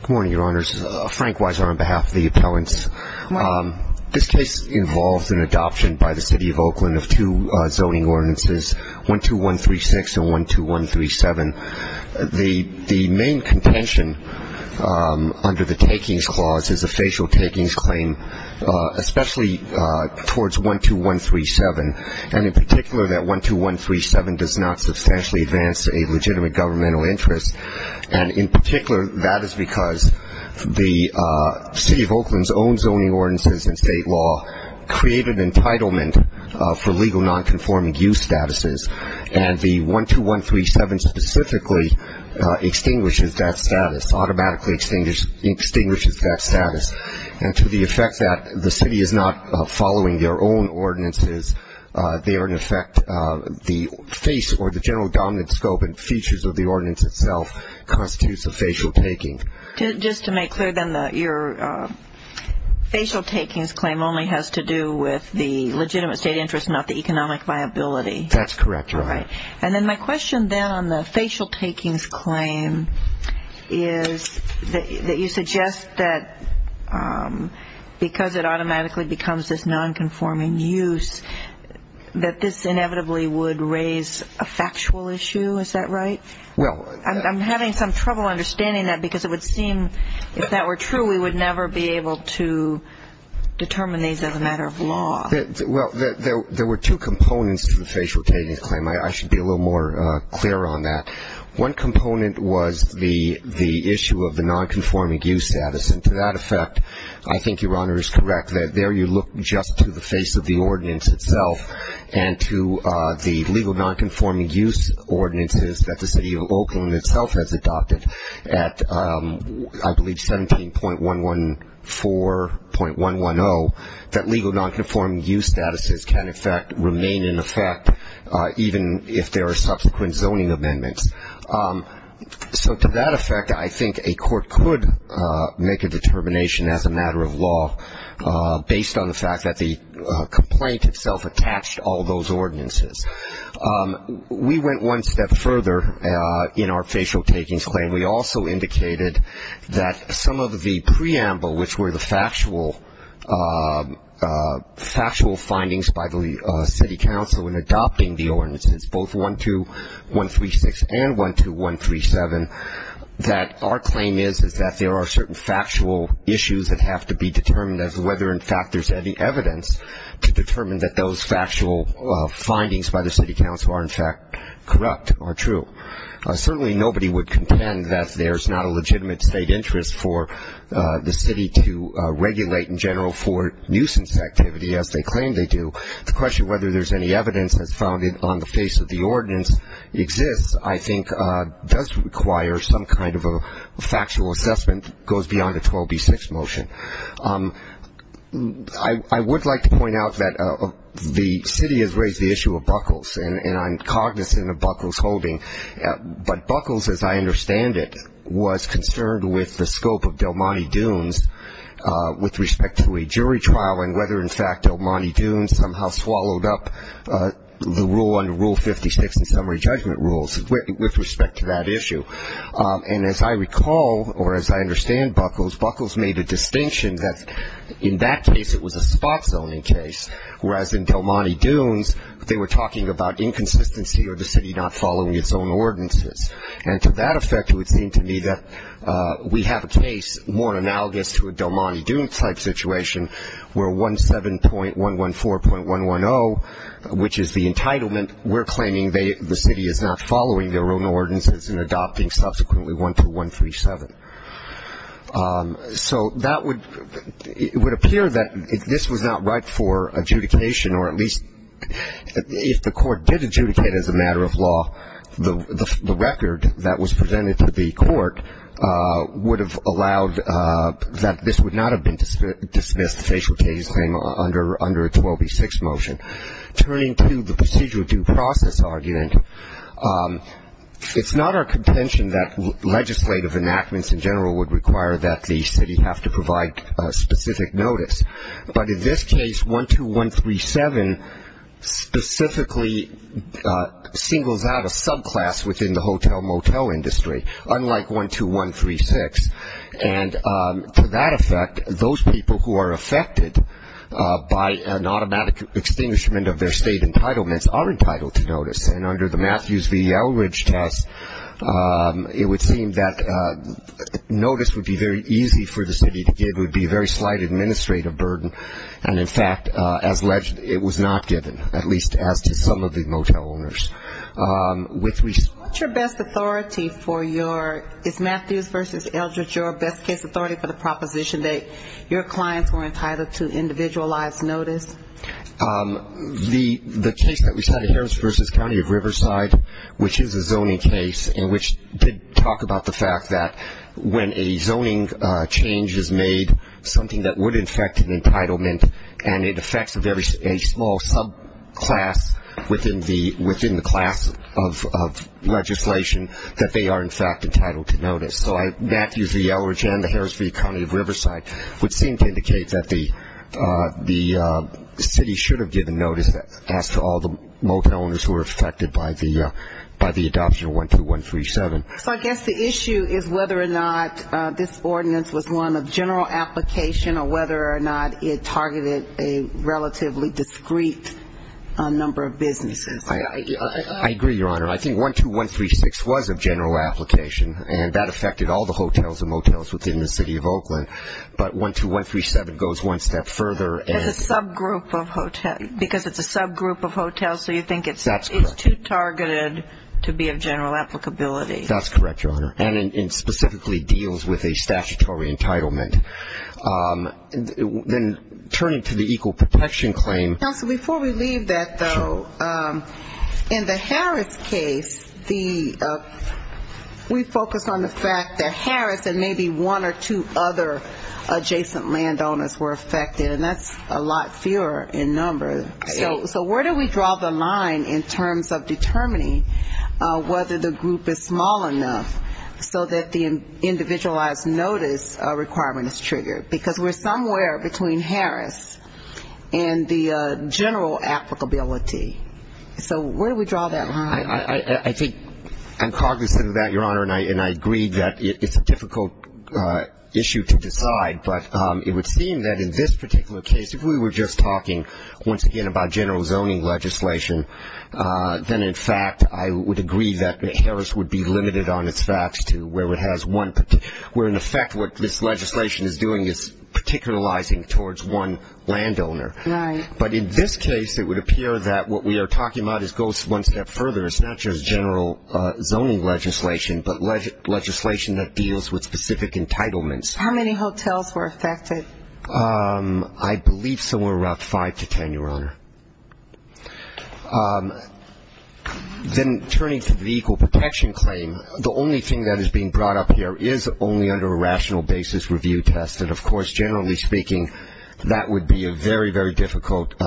Good morning, your honors. Frank Weiser on behalf of the appellants. This case involves an adoption by the City of Oakland of two zoning ordinances, 12136 and 12137. The main contention under the takings clause is a facial takings claim, especially towards 12137, and in particular that 12137 does not substantially advance a legitimate governmental interest, and in particular that is because the City of Oakland's own zoning ordinances and state law created entitlement for legal nonconforming use statuses, and the 12137 specifically extinguishes that status, automatically extinguishes that status, and to the effect that the city is not following their own ordinances, they are in effect the face or the general dominant scope and features of the ordinance itself constitutes a facial taking. Just to make clear then, your facial takings claim only has to do with the legitimate state interest, not the economic viability. That's correct, your honor. All right. And then my question then on the facial takings claim is that you suggest that because it automatically becomes this nonconforming use, that this inevitably would raise a factual issue, is that right? I'm having some trouble understanding that because it would seem if that were true, we would never be able to determine these as a matter of law. Well, there were two components to the facial takings claim. I should be a little more clear on that. One component was the issue of the nonconforming use status, and to that effect I think your honor is correct that there you look just to the face of the ordinance itself and to the legal nonconforming use ordinances that the City of Oakland itself has adopted at, I believe, 17.114.110, that legal nonconforming use statuses can in fact remain in effect even if there are subsequent zoning amendments. So to that effect, I think a court could make a determination as a matter of law based on the fact that the complaint itself attached all those ordinances. We went one step further in our facial takings claim. We also indicated that some of the preamble, which were the factual findings by the city council in adopting the ordinances, both 12136 and 12137, that our claim is that there are certain factual issues that have to be determined as whether in fact there's any evidence to determine that those factual findings by the city council are in fact corrupt or true. Certainly nobody would contend that there's not a legitimate state interest for the city to regulate in general for nuisance activity, as they claim they do. The question whether there's any evidence that's found on the face of the ordinance exists, I think, does require some kind of a factual assessment that goes beyond a 12B6 motion. I would like to point out that the city has raised the issue of buckles, and I'm cognizant of buckles holding, but buckles, as I understand it, was concerned with the scope of Del Monte Dunes with respect to a jury trial and whether in fact Del Monte Dunes somehow swallowed up the rule under Rule 56 in summary judgment rules with respect to that issue. And as I recall, or as I understand buckles, buckles made a distinction that in that case it was a spot zoning case, whereas in Del Monte Dunes they were talking about inconsistency or the city not following its own ordinances. And to that effect it would seem to me that we have a case more analogous to a Del Monte Dunes type situation where 17.114.110, which is the entitlement, we're claiming the city is not following their own ordinances and adopting subsequently 12137. So that would, it would appear that this was not right for adjudication, or at least if the court did adjudicate as a matter of law, the record that was presented to the court would have allowed that this would not have been dismissed, the facial case claim under a 12B6 motion. Turning to the procedural due process argument, it's not our contention that legislative enactments in general would require that the city have to provide specific notice. But in this case, 12137 specifically singles out a subclass within the hotel-motel industry, unlike 12136. And to that effect, those people who are affected by an automatic extinguishment of their state entitlements are entitled to notice. And under the Matthews v. Eldridge test, it would seem that notice would be very easy for the city to give, would be a very slight administrative burden. And in fact, as alleged, it was not given, at least as to some of the motel owners. What's your best authority for your, is Matthews v. Eldridge your best case authority for the proposition that your clients were entitled to individualized notice? The case that we had at Harris versus County of Riverside, which is a zoning case, and which did talk about the fact that when a zoning change is made, something that would affect an entitlement, and it affects a very small subclass within the class of legislation, that they are, in fact, entitled to notice. So Matthews v. Eldridge and the Harris v. County of Riverside would seem to indicate that the city should have given notice as to all the motel owners who were affected by the adoption of 12137. So I guess the issue is whether or not this ordinance was one of general application or whether or not it targeted a relatively discrete number of businesses. I agree, Your Honor. I think 12136 was of general application, and that affected all the hotels and motels within the city of Oakland. But 12137 goes one step further. Because it's a subgroup of hotels, so you think it's too targeted to be of general applicability. That's correct, Your Honor. And it specifically deals with a statutory entitlement. Then turning to the equal protection claim. Counsel, before we leave that, though, in the Harris case, we focused on the fact that Harris and maybe one or two other adjacent landowners were affected, and that's a lot fewer in number. So where do we draw the line in terms of determining whether the group is small enough so that the individualized notice requirement is triggered? Because we're somewhere between Harris and the general applicability. So where do we draw that line? I think I'm cognizant of that, Your Honor, and I agree that it's a difficult issue to decide. But it would seem that in this particular case, if we were just talking, once again, about general zoning legislation, then, in fact, I would agree that Harris would be limited on its facts where, in effect, what this legislation is doing is particularizing towards one landowner. Right. But in this case, it would appear that what we are talking about goes one step further. It's not just general zoning legislation, but legislation that deals with specific entitlements. How many hotels were affected? I believe somewhere around five to ten, Your Honor. Then turning to the equal protection claim, the only thing that is being brought up here is only under a rational basis review test. And, of course, generally speaking, that would be a very, very difficult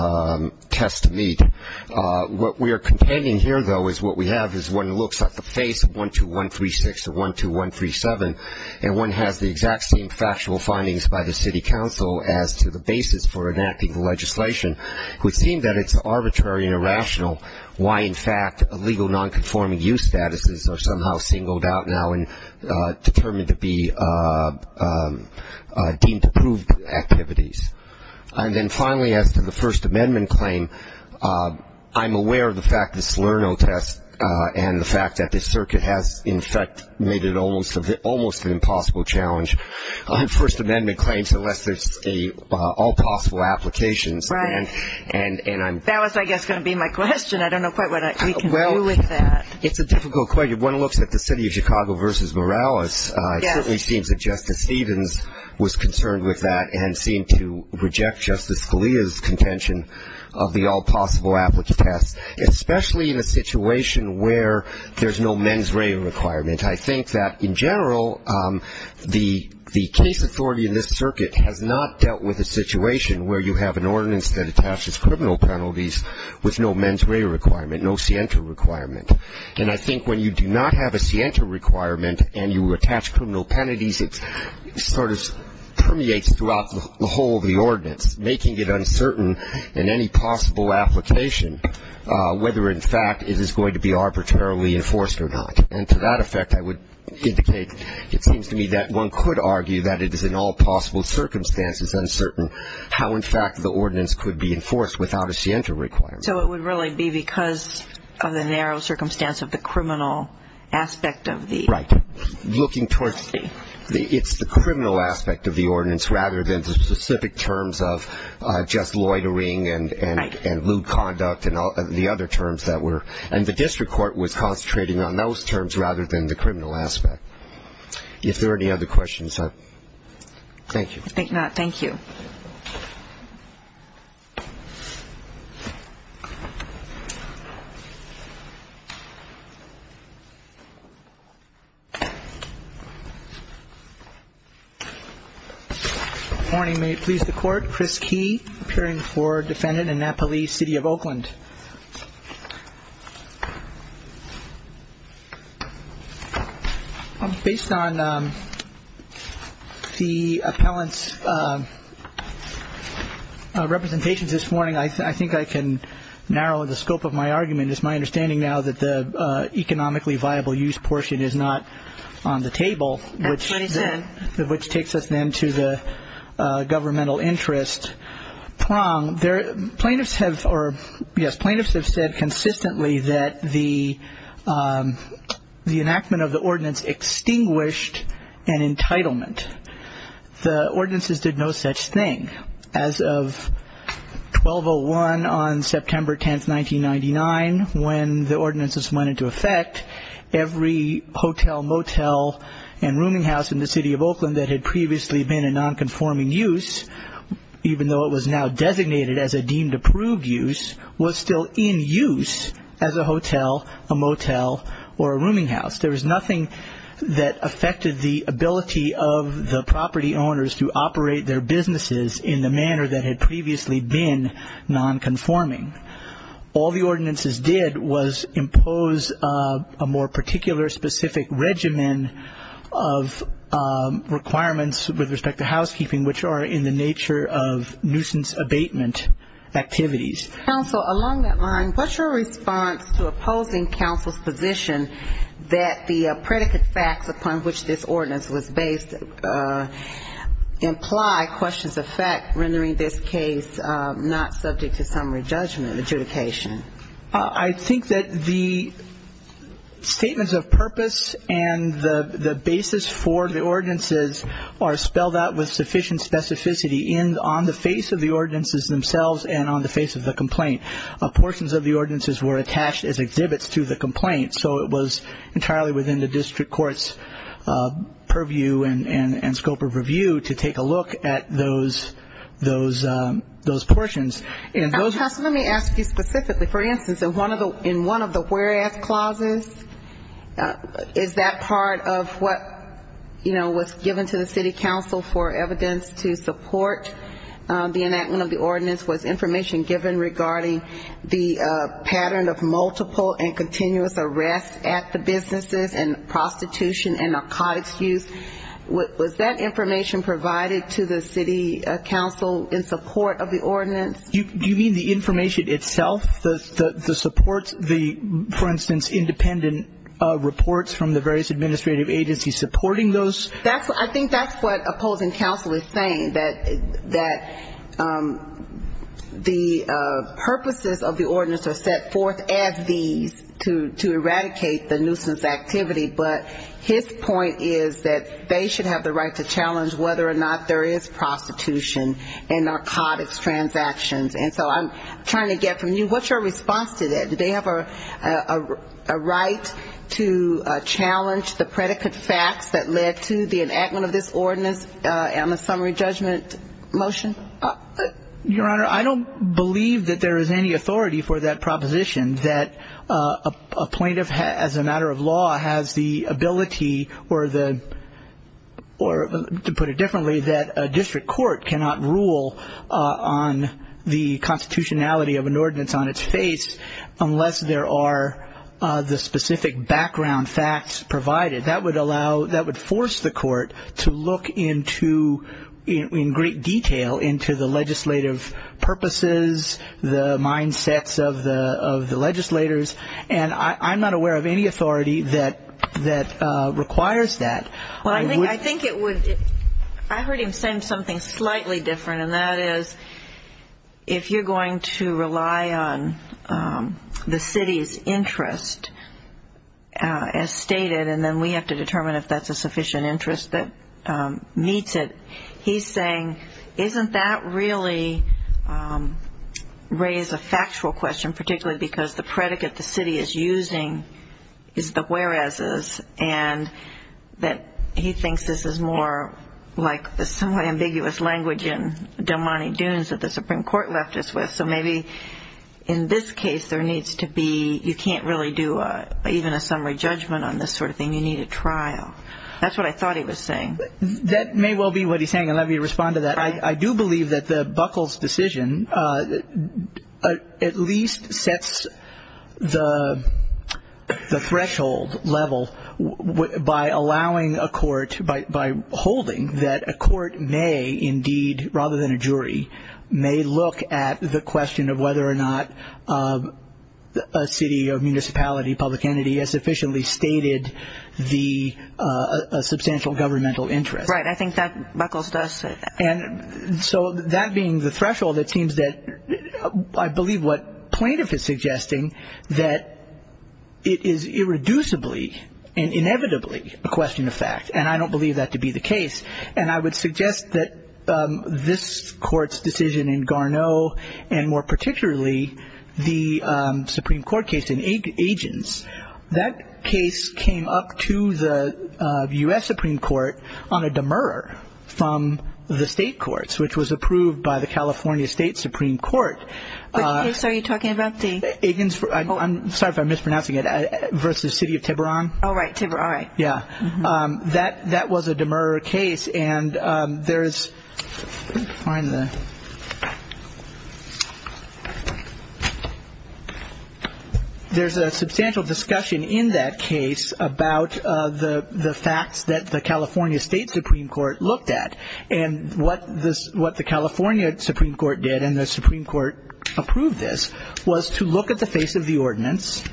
test to meet. What we are containing here, though, is what we have is one looks at the face of 12136 or 12137, and one has the exact same factual findings by the city council as to the basis for enacting the legislation. It would seem that it's arbitrary and irrational why, in fact, illegal non-conforming use statuses are somehow singled out now and determined to be deemed approved activities. And then finally, as to the First Amendment claim, I'm aware of the fact this SlurNo test and the fact that this circuit has, in fact, made it almost an impossible challenge. First Amendment claims, unless there's all possible applications. Right. That was, I guess, going to be my question. I don't know quite what we can do with that. Well, it's a difficult question. One looks at the city of Chicago versus Morales. It certainly seems that Justice Stevens was concerned with that and seemed to reject Justice Scalia's contention of the all possible applicants, especially in a situation where there's no mens rea requirement. I think that, in general, the case authority in this circuit has not dealt with a situation where you have an ordinance that attaches criminal penalties with no mens rea requirement, no scienta requirement. And I think when you do not have a scienta requirement and you attach criminal penalties, it sort of permeates throughout the whole of the ordinance, making it uncertain in any possible application whether, in fact, it is going to be arbitrarily enforced or not. And to that effect, I would indicate, it seems to me, that one could argue that it is in all possible circumstances uncertain how, in fact, the ordinance could be enforced without a scienta requirement. So it would really be because of the narrow circumstance of the criminal aspect of the city. Right. It's the criminal aspect of the ordinance rather than the specific terms of just loitering and lewd conduct and the district court was concentrating on those terms rather than the criminal aspect. If there are any other questions, thank you. Thank you. Good morning. May it please the Court. Chris Key, appearing for defendant in Napoli City of Oakland. Based on the appellant's representations this morning, I think I can narrow the scope of my argument. It's my understanding now that the economically viable use portion is not on the table, which takes us then to the governmental interest prong. Plaintiffs have said consistently that the enactment of the ordinance extinguished an entitlement. The ordinances did no such thing. As of 1201 on September 10, 1999, when the ordinances went into effect, every hotel, motel, and rooming house in the city of Oakland that had previously been in nonconforming use, even though it was now designated as a deemed approved use, was still in use as a hotel, a motel, or a rooming house. There was nothing that affected the ability of the property owners to operate their businesses in the manner that had previously been nonconforming. All the ordinances did was impose a more particular specific regimen of requirements with respect to housekeeping, which are in the nature of nuisance abatement activities. Counsel, along that line, what's your response to opposing counsel's position that the predicate facts upon which this ordinance was based imply questions of fact rendering this case not subject to summary judgment adjudication? I think that the statements of purpose and the basis for the ordinances are spelled out with sufficient specificity on the face of the ordinances themselves and on the face of the complaint. Portions of the ordinances were attached as exhibits to the complaint, so it was entirely within the district court's purview and scope of review to take a look at those portions. Counsel, let me ask you specifically. For instance, in one of the whereas clauses, is that part of what was given to the city council for evidence to support the enactment of the ordinance? Was information given regarding the pattern of multiple and continuous arrests at the businesses and prostitution and narcotics use? Was that information provided to the city council in support of the ordinance? Do you mean the information itself, the supports, the, for instance, independent reports from the various administrative agencies supporting those? I think that's what opposing counsel is saying, that the purposes of the ordinance are set forth as these to eradicate the nuisance activity. But his point is that they should have the right to challenge whether or not there is prostitution and narcotics transactions. And so I'm trying to get from you, what's your response to that? Do they have a right to challenge the predicate facts that led to the enactment of this ordinance and the summary judgment motion? Your Honor, I don't believe that there is any authority for that proposition, that a plaintiff as a matter of law has the ability or, to put it differently, that a district court cannot rule on the constitutionality of an ordinance on its face unless there are the specific background facts provided. That would allow, that would force the court to look into, in great detail, into the legislative purposes, the mindsets of the legislators. And I'm not aware of any authority that requires that. Well, I think it would. I heard him say something slightly different, and that is if you're going to rely on the city's interest, as stated, and then we have to determine if that's a sufficient interest that meets it, he's saying, isn't that really raised a factual question, particularly because the predicate the city is using is the whereases, and that he thinks this is more like the somewhat ambiguous language in Del Monte Dunes that the Supreme Court left us with. So maybe in this case there needs to be, you can't really do even a summary judgment on this sort of thing, you need a trial. That's what I thought he was saying. That may well be what he's saying, and let me respond to that. I do believe that the Buckles decision at least sets the threshold level by allowing a court, by holding that a court may indeed, rather than a jury, may look at the question of whether or not a city or municipality, public entity has sufficiently stated a substantial governmental interest. Right. I think that Buckles does say that. So that being the threshold, it seems that I believe what plaintiff is suggesting, that it is irreducibly and inevitably a question of fact, and I don't believe that to be the case. And I would suggest that this Court's decision in Garneau, and more particularly the Supreme Court case in Agins, that case came up to the U.S. Supreme Court on a demurrer from the state courts, which was approved by the California State Supreme Court. Which case are you talking about? Agins, I'm sorry if I'm mispronouncing it, versus the city of Tiburon. Oh, right, Tiburon, all right. Yeah. That was a demurrer case. And there is a substantial discussion in that case about the facts that the California State Supreme Court looked at. And what the California Supreme Court did, and the Supreme Court approved this, was to look at the face of the ordinance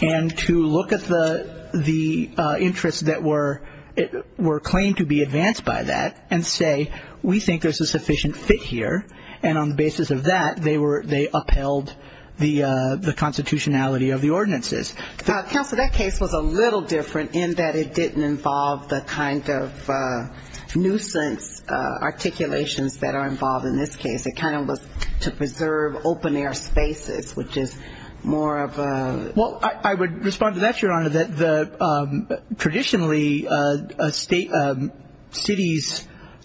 and to look at the interests that were claimed to be advanced by that and say we think there's a sufficient fit here. And on the basis of that, they upheld the constitutionality of the ordinances. Counsel, that case was a little different in that it didn't involve the kind of nuisance articulations that are involved in this case. It kind of was to preserve open air spaces, which is more of a... Well, I would respond to that, Your Honor, that traditionally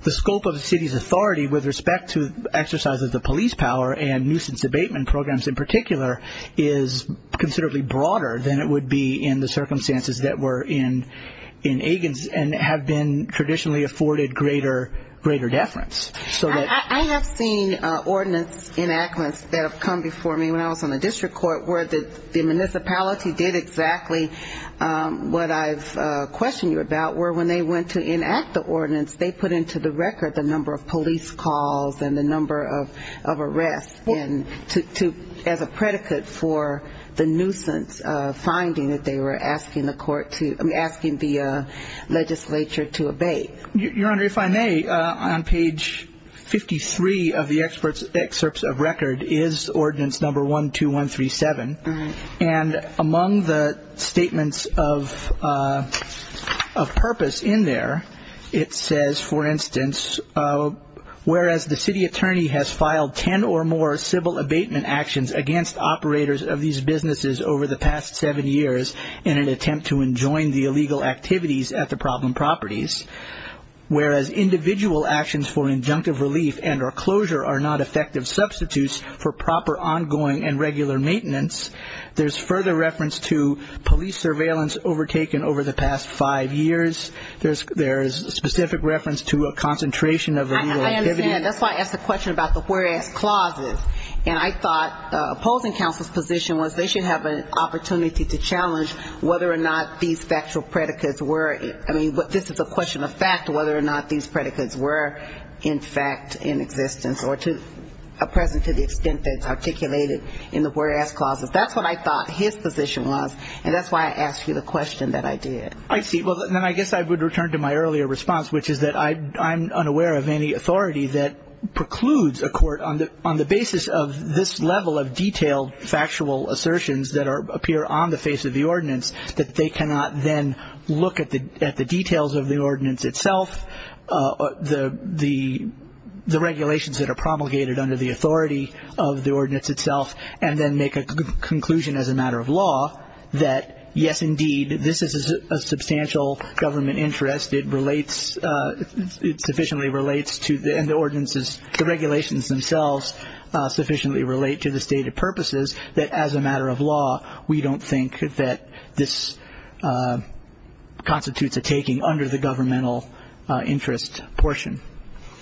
the scope of the city's authority with respect to exercises of police power and nuisance abatement programs in particular is considerably broader than it would be in the circumstances that were in Agins and have been traditionally afforded greater deference. I have seen ordinance enactments that have come before me when I was on the district court where the municipality did exactly what I've questioned you about, where when they went to enact the ordinance, they put into the record the number of police calls and the number of arrests as a predicate for the nuisance finding that they were asking the legislature to abate. Your Honor, if I may, on page 53 of the excerpts of record is ordinance number 12137, and among the statements of purpose in there, it says, for instance, whereas the city attorney has filed 10 or more civil abatement actions against operators of these businesses over the past seven years in an attempt to enjoin the illegal activities at the problem properties, whereas individual actions for injunctive relief and or closure are not effective substitutes for proper ongoing and regular maintenance. There's further reference to police surveillance overtaken over the past five years. There's specific reference to a concentration of illegal activity. I understand. That's why I asked the question about the whereas clauses, and I thought opposing counsel's position was they should have an opportunity to challenge whether or not these factual predicates were, I mean, this is a question of fact, whether or not these predicates were in fact in existence or are present to the extent that it's articulated in the whereas clauses. That's what I thought his position was, and that's why I asked you the question that I did. I see. Well, then I guess I would return to my earlier response, which is that I'm unaware of any authority that precludes a court, on the basis of this level of detailed factual assertions that appear on the face of the ordinance, that they cannot then look at the details of the ordinance itself, the regulations that are promulgated under the authority of the ordinance itself, and then make a conclusion as a matter of law that, yes, indeed, this is a substantial government interest. It relates, it sufficiently relates to the ordinances, the regulations themselves sufficiently relate to the stated purposes that, as a matter of law, we don't think that this constitutes a taking under the governmental interest portion.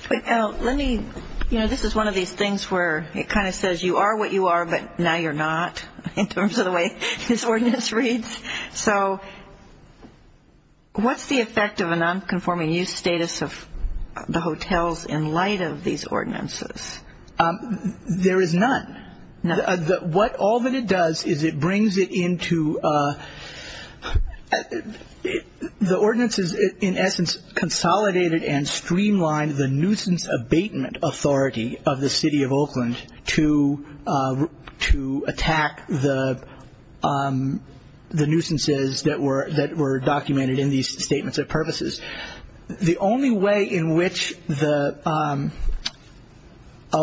Let me, you know, this is one of these things where it kind of says you are what you are, but now you're not in terms of the way this ordinance reads. So what's the effect of a nonconforming use status of the hotels in light of these ordinances? There is none. All that it does is it brings it into the ordinances, in essence, and streamline the nuisance abatement authority of the city of Oakland to attack the nuisances that were documented in these statements of purposes. The only way in which a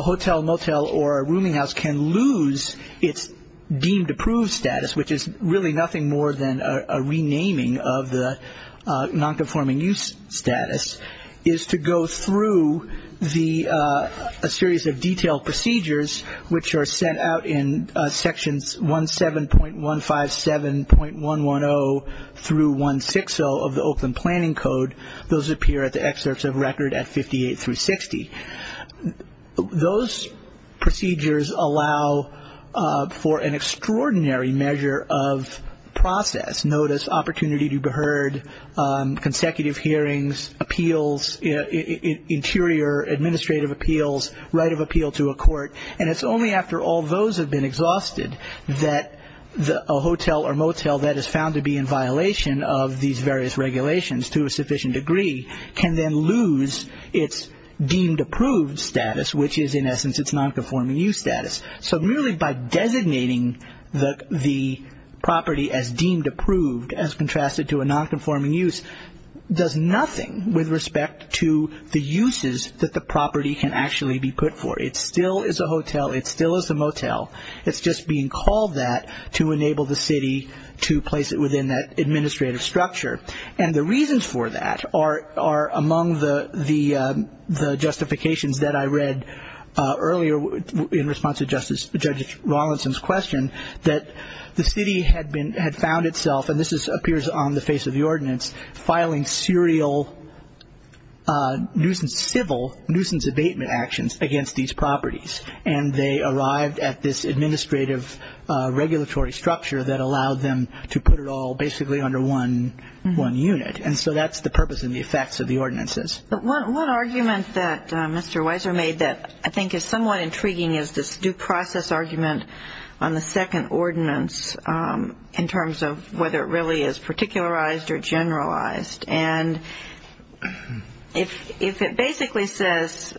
hotel, motel, or a rooming house can lose its deemed approved status, which is really nothing more than a renaming of the nonconforming use status, is to go through a series of detailed procedures, which are sent out in Sections 17.157.110 through 160 of the Oakland Planning Code. Those appear at the excerpts of record at 58 through 60. Those procedures allow for an extraordinary measure of process, notice, opportunity to be heard, consecutive hearings, appeals, interior administrative appeals, right of appeal to a court, and it's only after all those have been exhausted that a hotel or motel that is found to be in violation of these various regulations to a sufficient degree can then lose its deemed approved status, which is, in essence, its nonconforming use status. So merely by designating the property as deemed approved as contrasted to a nonconforming use does nothing with respect to the uses that the property can actually be put for. It still is a hotel. It still is a motel. It's just being called that to enable the city to place it within that administrative structure. And the reasons for that are among the justifications that I read earlier in response to Judge Rawlinson's question that the city had found itself, and this appears on the face of the ordinance, filing serial civil nuisance abatement actions against these properties, and they arrived at this administrative regulatory structure that allowed them to put it all basically under one unit. And so that's the purpose and the effects of the ordinances. But one argument that Mr. Weiser made that I think is somewhat intriguing is this due process argument on the second ordinance in terms of whether it really is particularized or generalized. And if it basically says,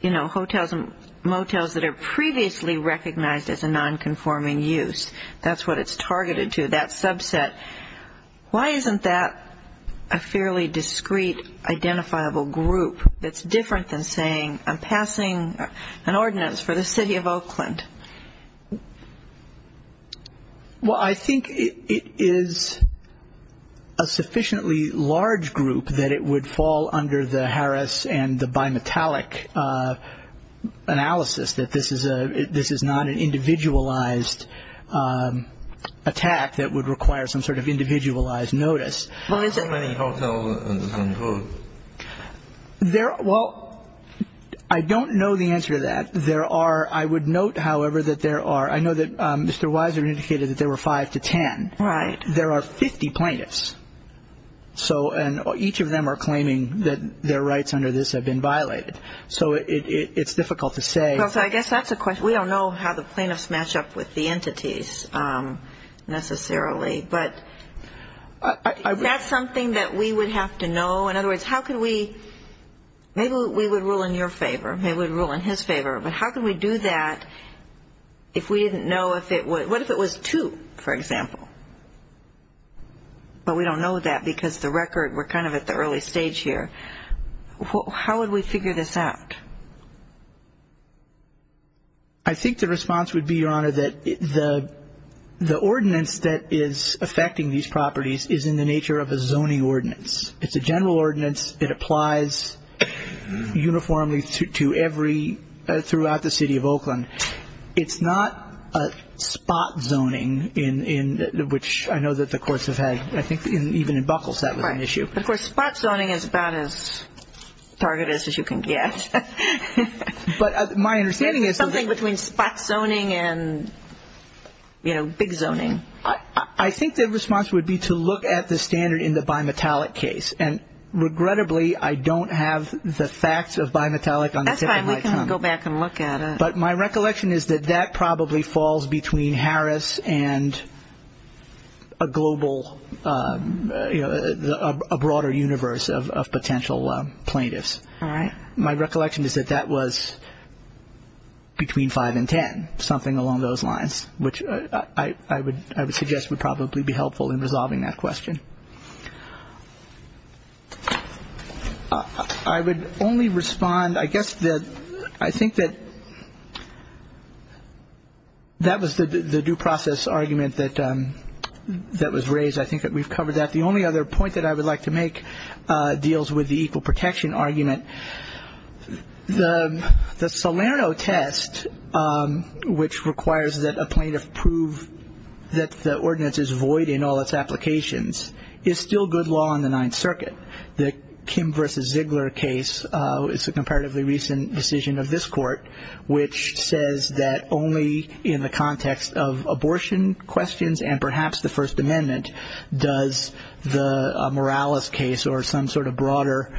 you know, hotels and motels that are previously recognized as a nonconforming use, that's what it's targeted to, that subset, why isn't that a fairly discrete identifiable group that's different than saying, I'm passing an ordinance for the city of Oakland? Well, I think it is a sufficiently large group that it would fall under the Harris and the bimetallic analysis, that this is not an individualized attack that would require some sort of individualized notice. Why so many hotels and hotels? Well, I don't know the answer to that. There are, I would note, however, that there are, I know that Mr. Weiser indicated that there were five to ten. Right. There are 50 plaintiffs. So each of them are claiming that their rights under this have been violated. So it's difficult to say. Well, so I guess that's a question. We don't know how the plaintiffs match up with the entities necessarily. But is that something that we would have to know? In other words, how could we, maybe we would rule in your favor, maybe we would rule in his favor, but how could we do that if we didn't know if it would, what if it was two, for example? But we don't know that because the record, we're kind of at the early stage here. How would we figure this out? I think the response would be, Your Honor, that the ordinance that is affecting these properties is in the nature of a zoning ordinance. It's a general ordinance. It applies uniformly to every, throughout the city of Oakland. It's not a spot zoning, which I know that the courts have had, I think even in Buckles that was an issue. Of course, spot zoning is about as targeted as you can get. But my understanding is that. Something between spot zoning and, you know, big zoning. I think the response would be to look at the standard in the bimetallic case. And regrettably, I don't have the facts of bimetallic on the tip of my tongue. That's fine. We can go back and look at it. But my recollection is that that probably falls between Harris and a global, a broader universe of potential plaintiffs. My recollection is that that was between five and ten, something along those lines, which I would suggest would probably be helpful in resolving that question. I would only respond, I guess that I think that that was the due process argument that was raised. I think that we've covered that. The only other point that I would like to make deals with the equal protection argument. The Salerno test, which requires that a plaintiff prove that the ordinance is void in all its applications, is still good law in the Ninth Circuit. The Kim versus Ziegler case is a comparatively recent decision of this court, which says that only in the context of abortion questions and perhaps the First Amendment does the Morales case or some sort of broader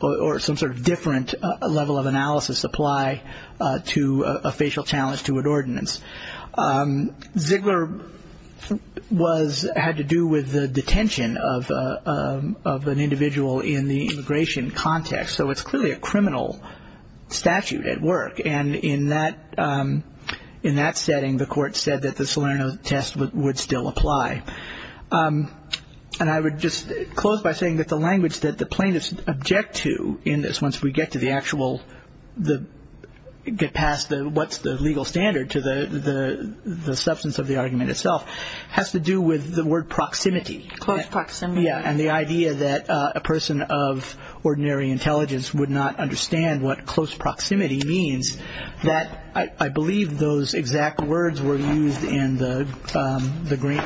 or some sort of different level of analysis apply to a facial challenge to an ordinance. Ziegler had to do with the detention of an individual in the immigration context. So it's clearly a criminal statute at work. And in that setting, the court said that the Salerno test would still apply. And I would just close by saying that the language that the plaintiffs object to in this, once we get to the actual, get past what's the legal standard to the substance of the argument itself, has to do with the word proximity. Close proximity. Yeah. And the idea that a person of ordinary intelligence would not understand what close proximity means, that I believe those exact words were used in the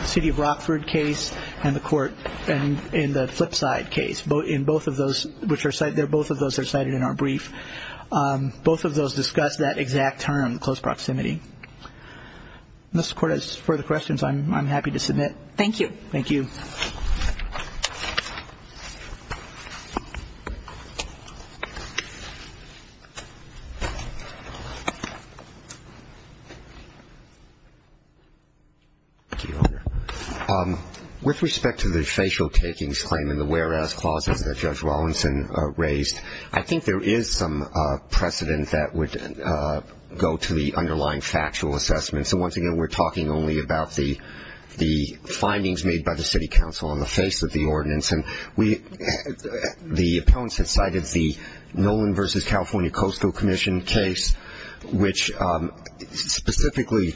city of Rockford case and the court in the flip side case. Both of those are cited in our brief. Both of those discuss that exact term, close proximity. Unless the court has further questions, I'm happy to submit. Thank you. Thank you. Thank you. With respect to the facial takings claim in the whereas clauses that Judge Rawlinson raised, I think there is some precedent that would go to the underlying factual assessment. So once again, we're talking only about the findings made by the city council on the face of the ordinance. And the opponents have cited the Nolan versus California Coastal Commission case, which specifically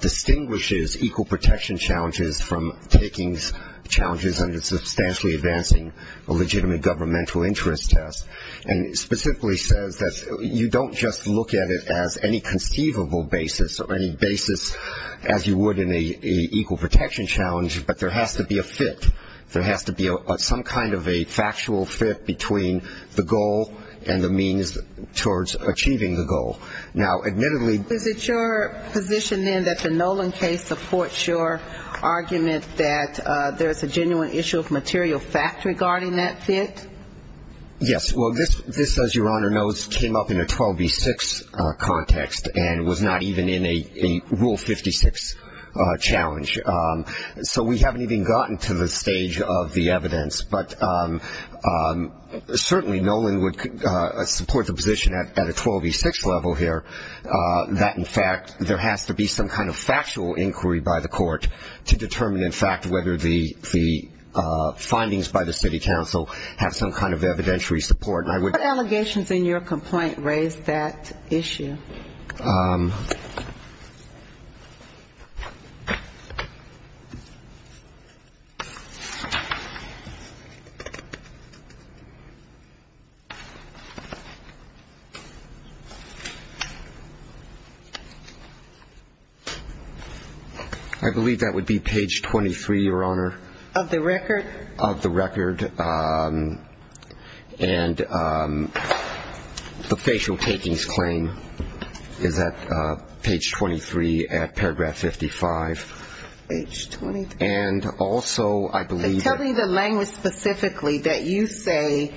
distinguishes equal protection challenges from takings challenges under substantially advancing a legitimate governmental interest test. And it specifically says that you don't just look at it as any conceivable basis or any basis as you would in an equal protection challenge, but there has to be a fit. There has to be some kind of a factual fit between the goal and the means towards achieving the goal. Now, admittedly ---- Is it your position then that the Nolan case supports your argument that there is a genuine issue of material fact regarding that fit? Yes. Well, this, as Your Honor knows, came up in a 12B6 context and was not even in a Rule 56 challenge. So we haven't even gotten to the stage of the evidence. But certainly Nolan would support the position at a 12B6 level here that, in fact, there has to be some kind of factual inquiry by the court to determine, in fact, whether the findings by the city council have some kind of evidentiary support. And I would ---- What allegations in your complaint raise that issue? I believe that would be page 23, Your Honor. Of the record? Of the record. And the facial takings claim. Is that page 23 at paragraph 55. Page 23. And also I believe that ---- Tell me the language specifically that you say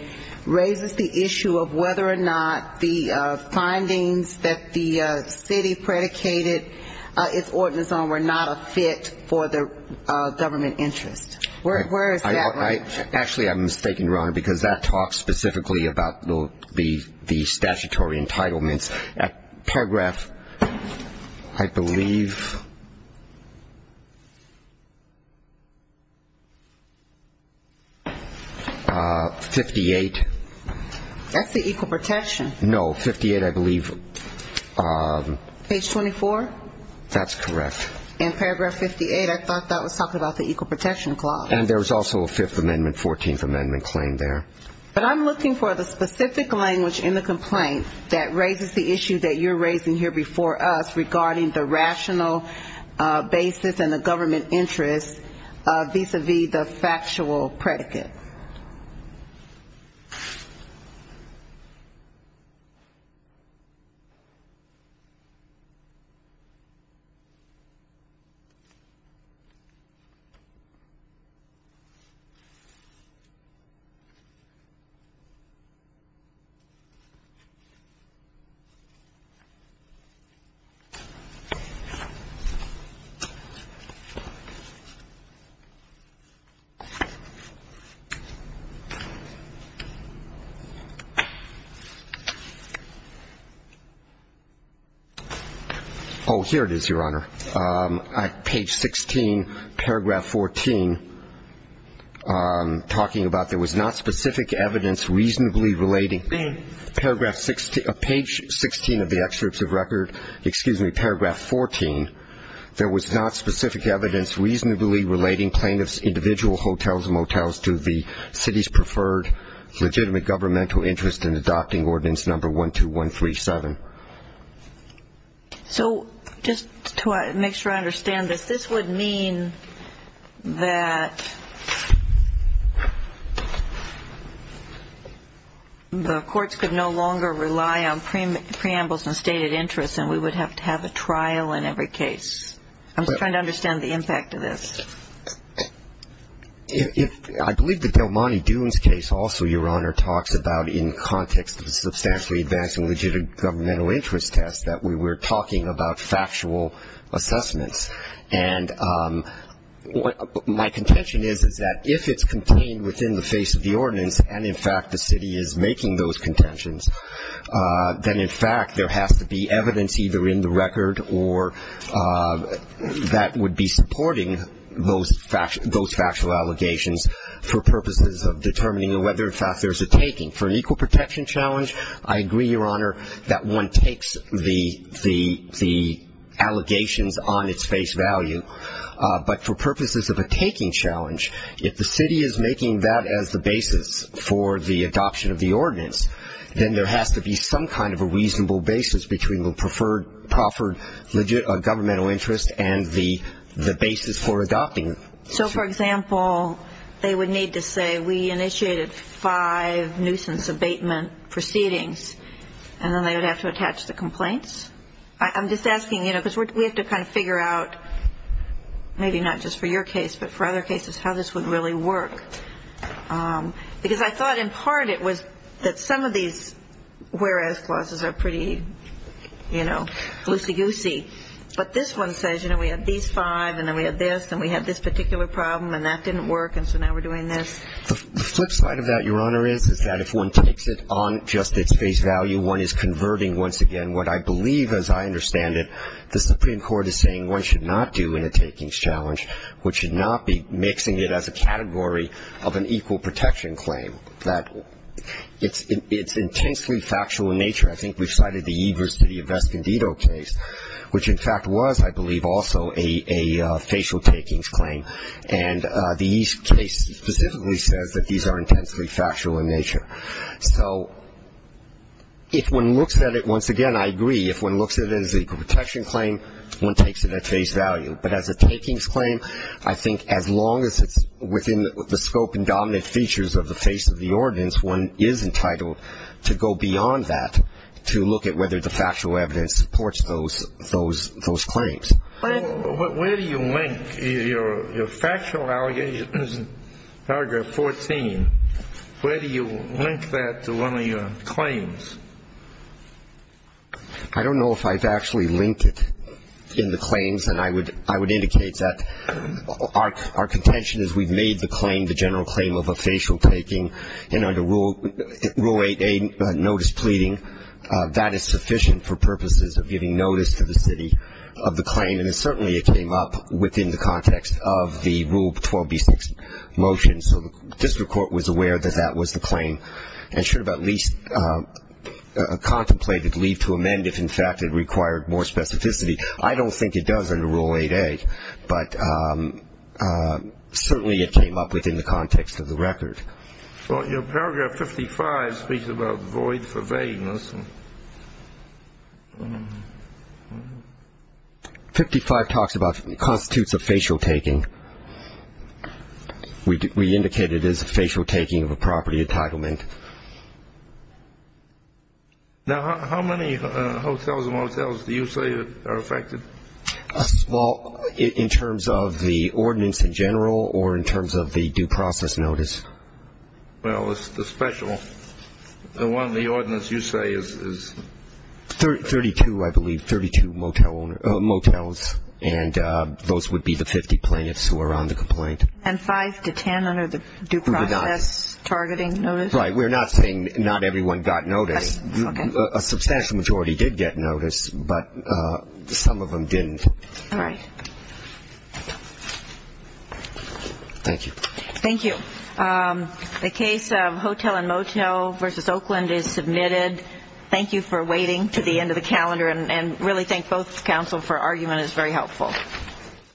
raises the issue of whether or not the findings that the city predicated its ordinance on were not a fit for the government interest. Where is that language? Actually, I'm mistaken, Your Honor, because that talks specifically about the statutory entitlements. Paragraph, I believe, 58. That's the Equal Protection. No, 58, I believe. Page 24? That's correct. In paragraph 58, I thought that was talking about the Equal Protection Clause. And there was also a Fifth Amendment, Fourteenth Amendment claim there. But I'm looking for the specific language in the complaint that raises the issue that you're raising here before us regarding the rational basis and the government interest vis-à-vis the factual predicate. Oh, here it is, Your Honor. Page 16, paragraph 14, talking about there was not specific evidence reasonably relating. Page 16 of the excerpt of record. Excuse me, paragraph 14, there was not specific evidence reasonably relating plaintiffs' individual hotels and motels to the city's preferred legitimate governmental interest in adopting Ordinance Number 12137. So just to make sure I understand this, this would mean that the courts could no longer rely on preambles and stated interests and we would have to have a trial in every case. I'm just trying to understand the impact of this. I believe the Del Monte Dunes case also, Your Honor, talks about in context of a substantially advanced and legitimate governmental interest test that we were talking about factual assessments. And my contention is, is that if it's contained within the face of the ordinance and, in fact, the city is making those contentions, then, in fact, there has to be evidence either in the record or that would be supporting those factual allegations for purposes of determining whether, in fact, there's a taking. For an equal protection challenge, I agree, Your Honor, that one takes the allegations on its face value. But for purposes of a taking challenge, if the city is making that as the basis for the adoption of the ordinance, then there has to be some kind of a reasonable basis between the preferred legitimate governmental interest and the basis for adopting it. So, for example, they would need to say, we initiated five nuisance abatement proceedings, I'm just asking, you know, because we have to kind of figure out, maybe not just for your case, but for other cases, how this would really work. Because I thought in part it was that some of these whereas clauses are pretty, you know, loosey-goosey. But this one says, you know, we had these five and then we had this and we had this particular problem and that didn't work and so now we're doing this. The flip side of that, Your Honor, is that if one takes it on just its face value, one is converting once again what I believe, as I understand it, the Supreme Court is saying one should not do in a takings challenge, which should not be mixing it as a category of an equal protection claim. That it's intensely factual in nature. I think we've cited the Evers-City of Escondido case, which in fact was, I believe, also a facial takings claim. And the East case specifically says that these are intensely factual in nature. So if one looks at it, once again, I agree, if one looks at it as an equal protection claim, one takes it at face value. But as a takings claim, I think as long as it's within the scope and dominant features of the face of the ordinance, one is entitled to go beyond that to look at whether the factual evidence supports those claims. Where do you link your factual allegations in paragraph 14? Where do you link that to one of your claims? I don't know if I've actually linked it in the claims, and I would indicate that our contention is we've made the claim the general claim of a facial taking, and under Rule 8a, notice pleading, that is sufficient for purposes of giving notice to the city of the claim. And certainly it came up within the context of the Rule 12b6 motion. So the district court was aware that that was the claim and should have at least contemplated leave to amend if, in fact, it required more specificity. I don't think it does under Rule 8a, but certainly it came up within the context of the record. Well, your paragraph 55 speaks about void for vagueness. 55 talks about constitutes of facial taking. We indicate it as facial taking of a property entitlement. Now, how many hotels and motels do you say are affected? Well, in terms of the ordinance in general or in terms of the due process notice? Well, the special, the one, the ordinance you say is 32, I believe, 32 motels, and those would be the 50 plaintiffs who are on the complaint. And five to 10 under the due process targeting notice? Right. We're not saying not everyone got notice. A substantial majority did get notice, but some of them didn't. All right. Thank you. Thank you. The case of Hotel and Motel v. Oakland is submitted. Thank you for waiting to the end of the calendar, and really thank both counsel for argument is very helpful.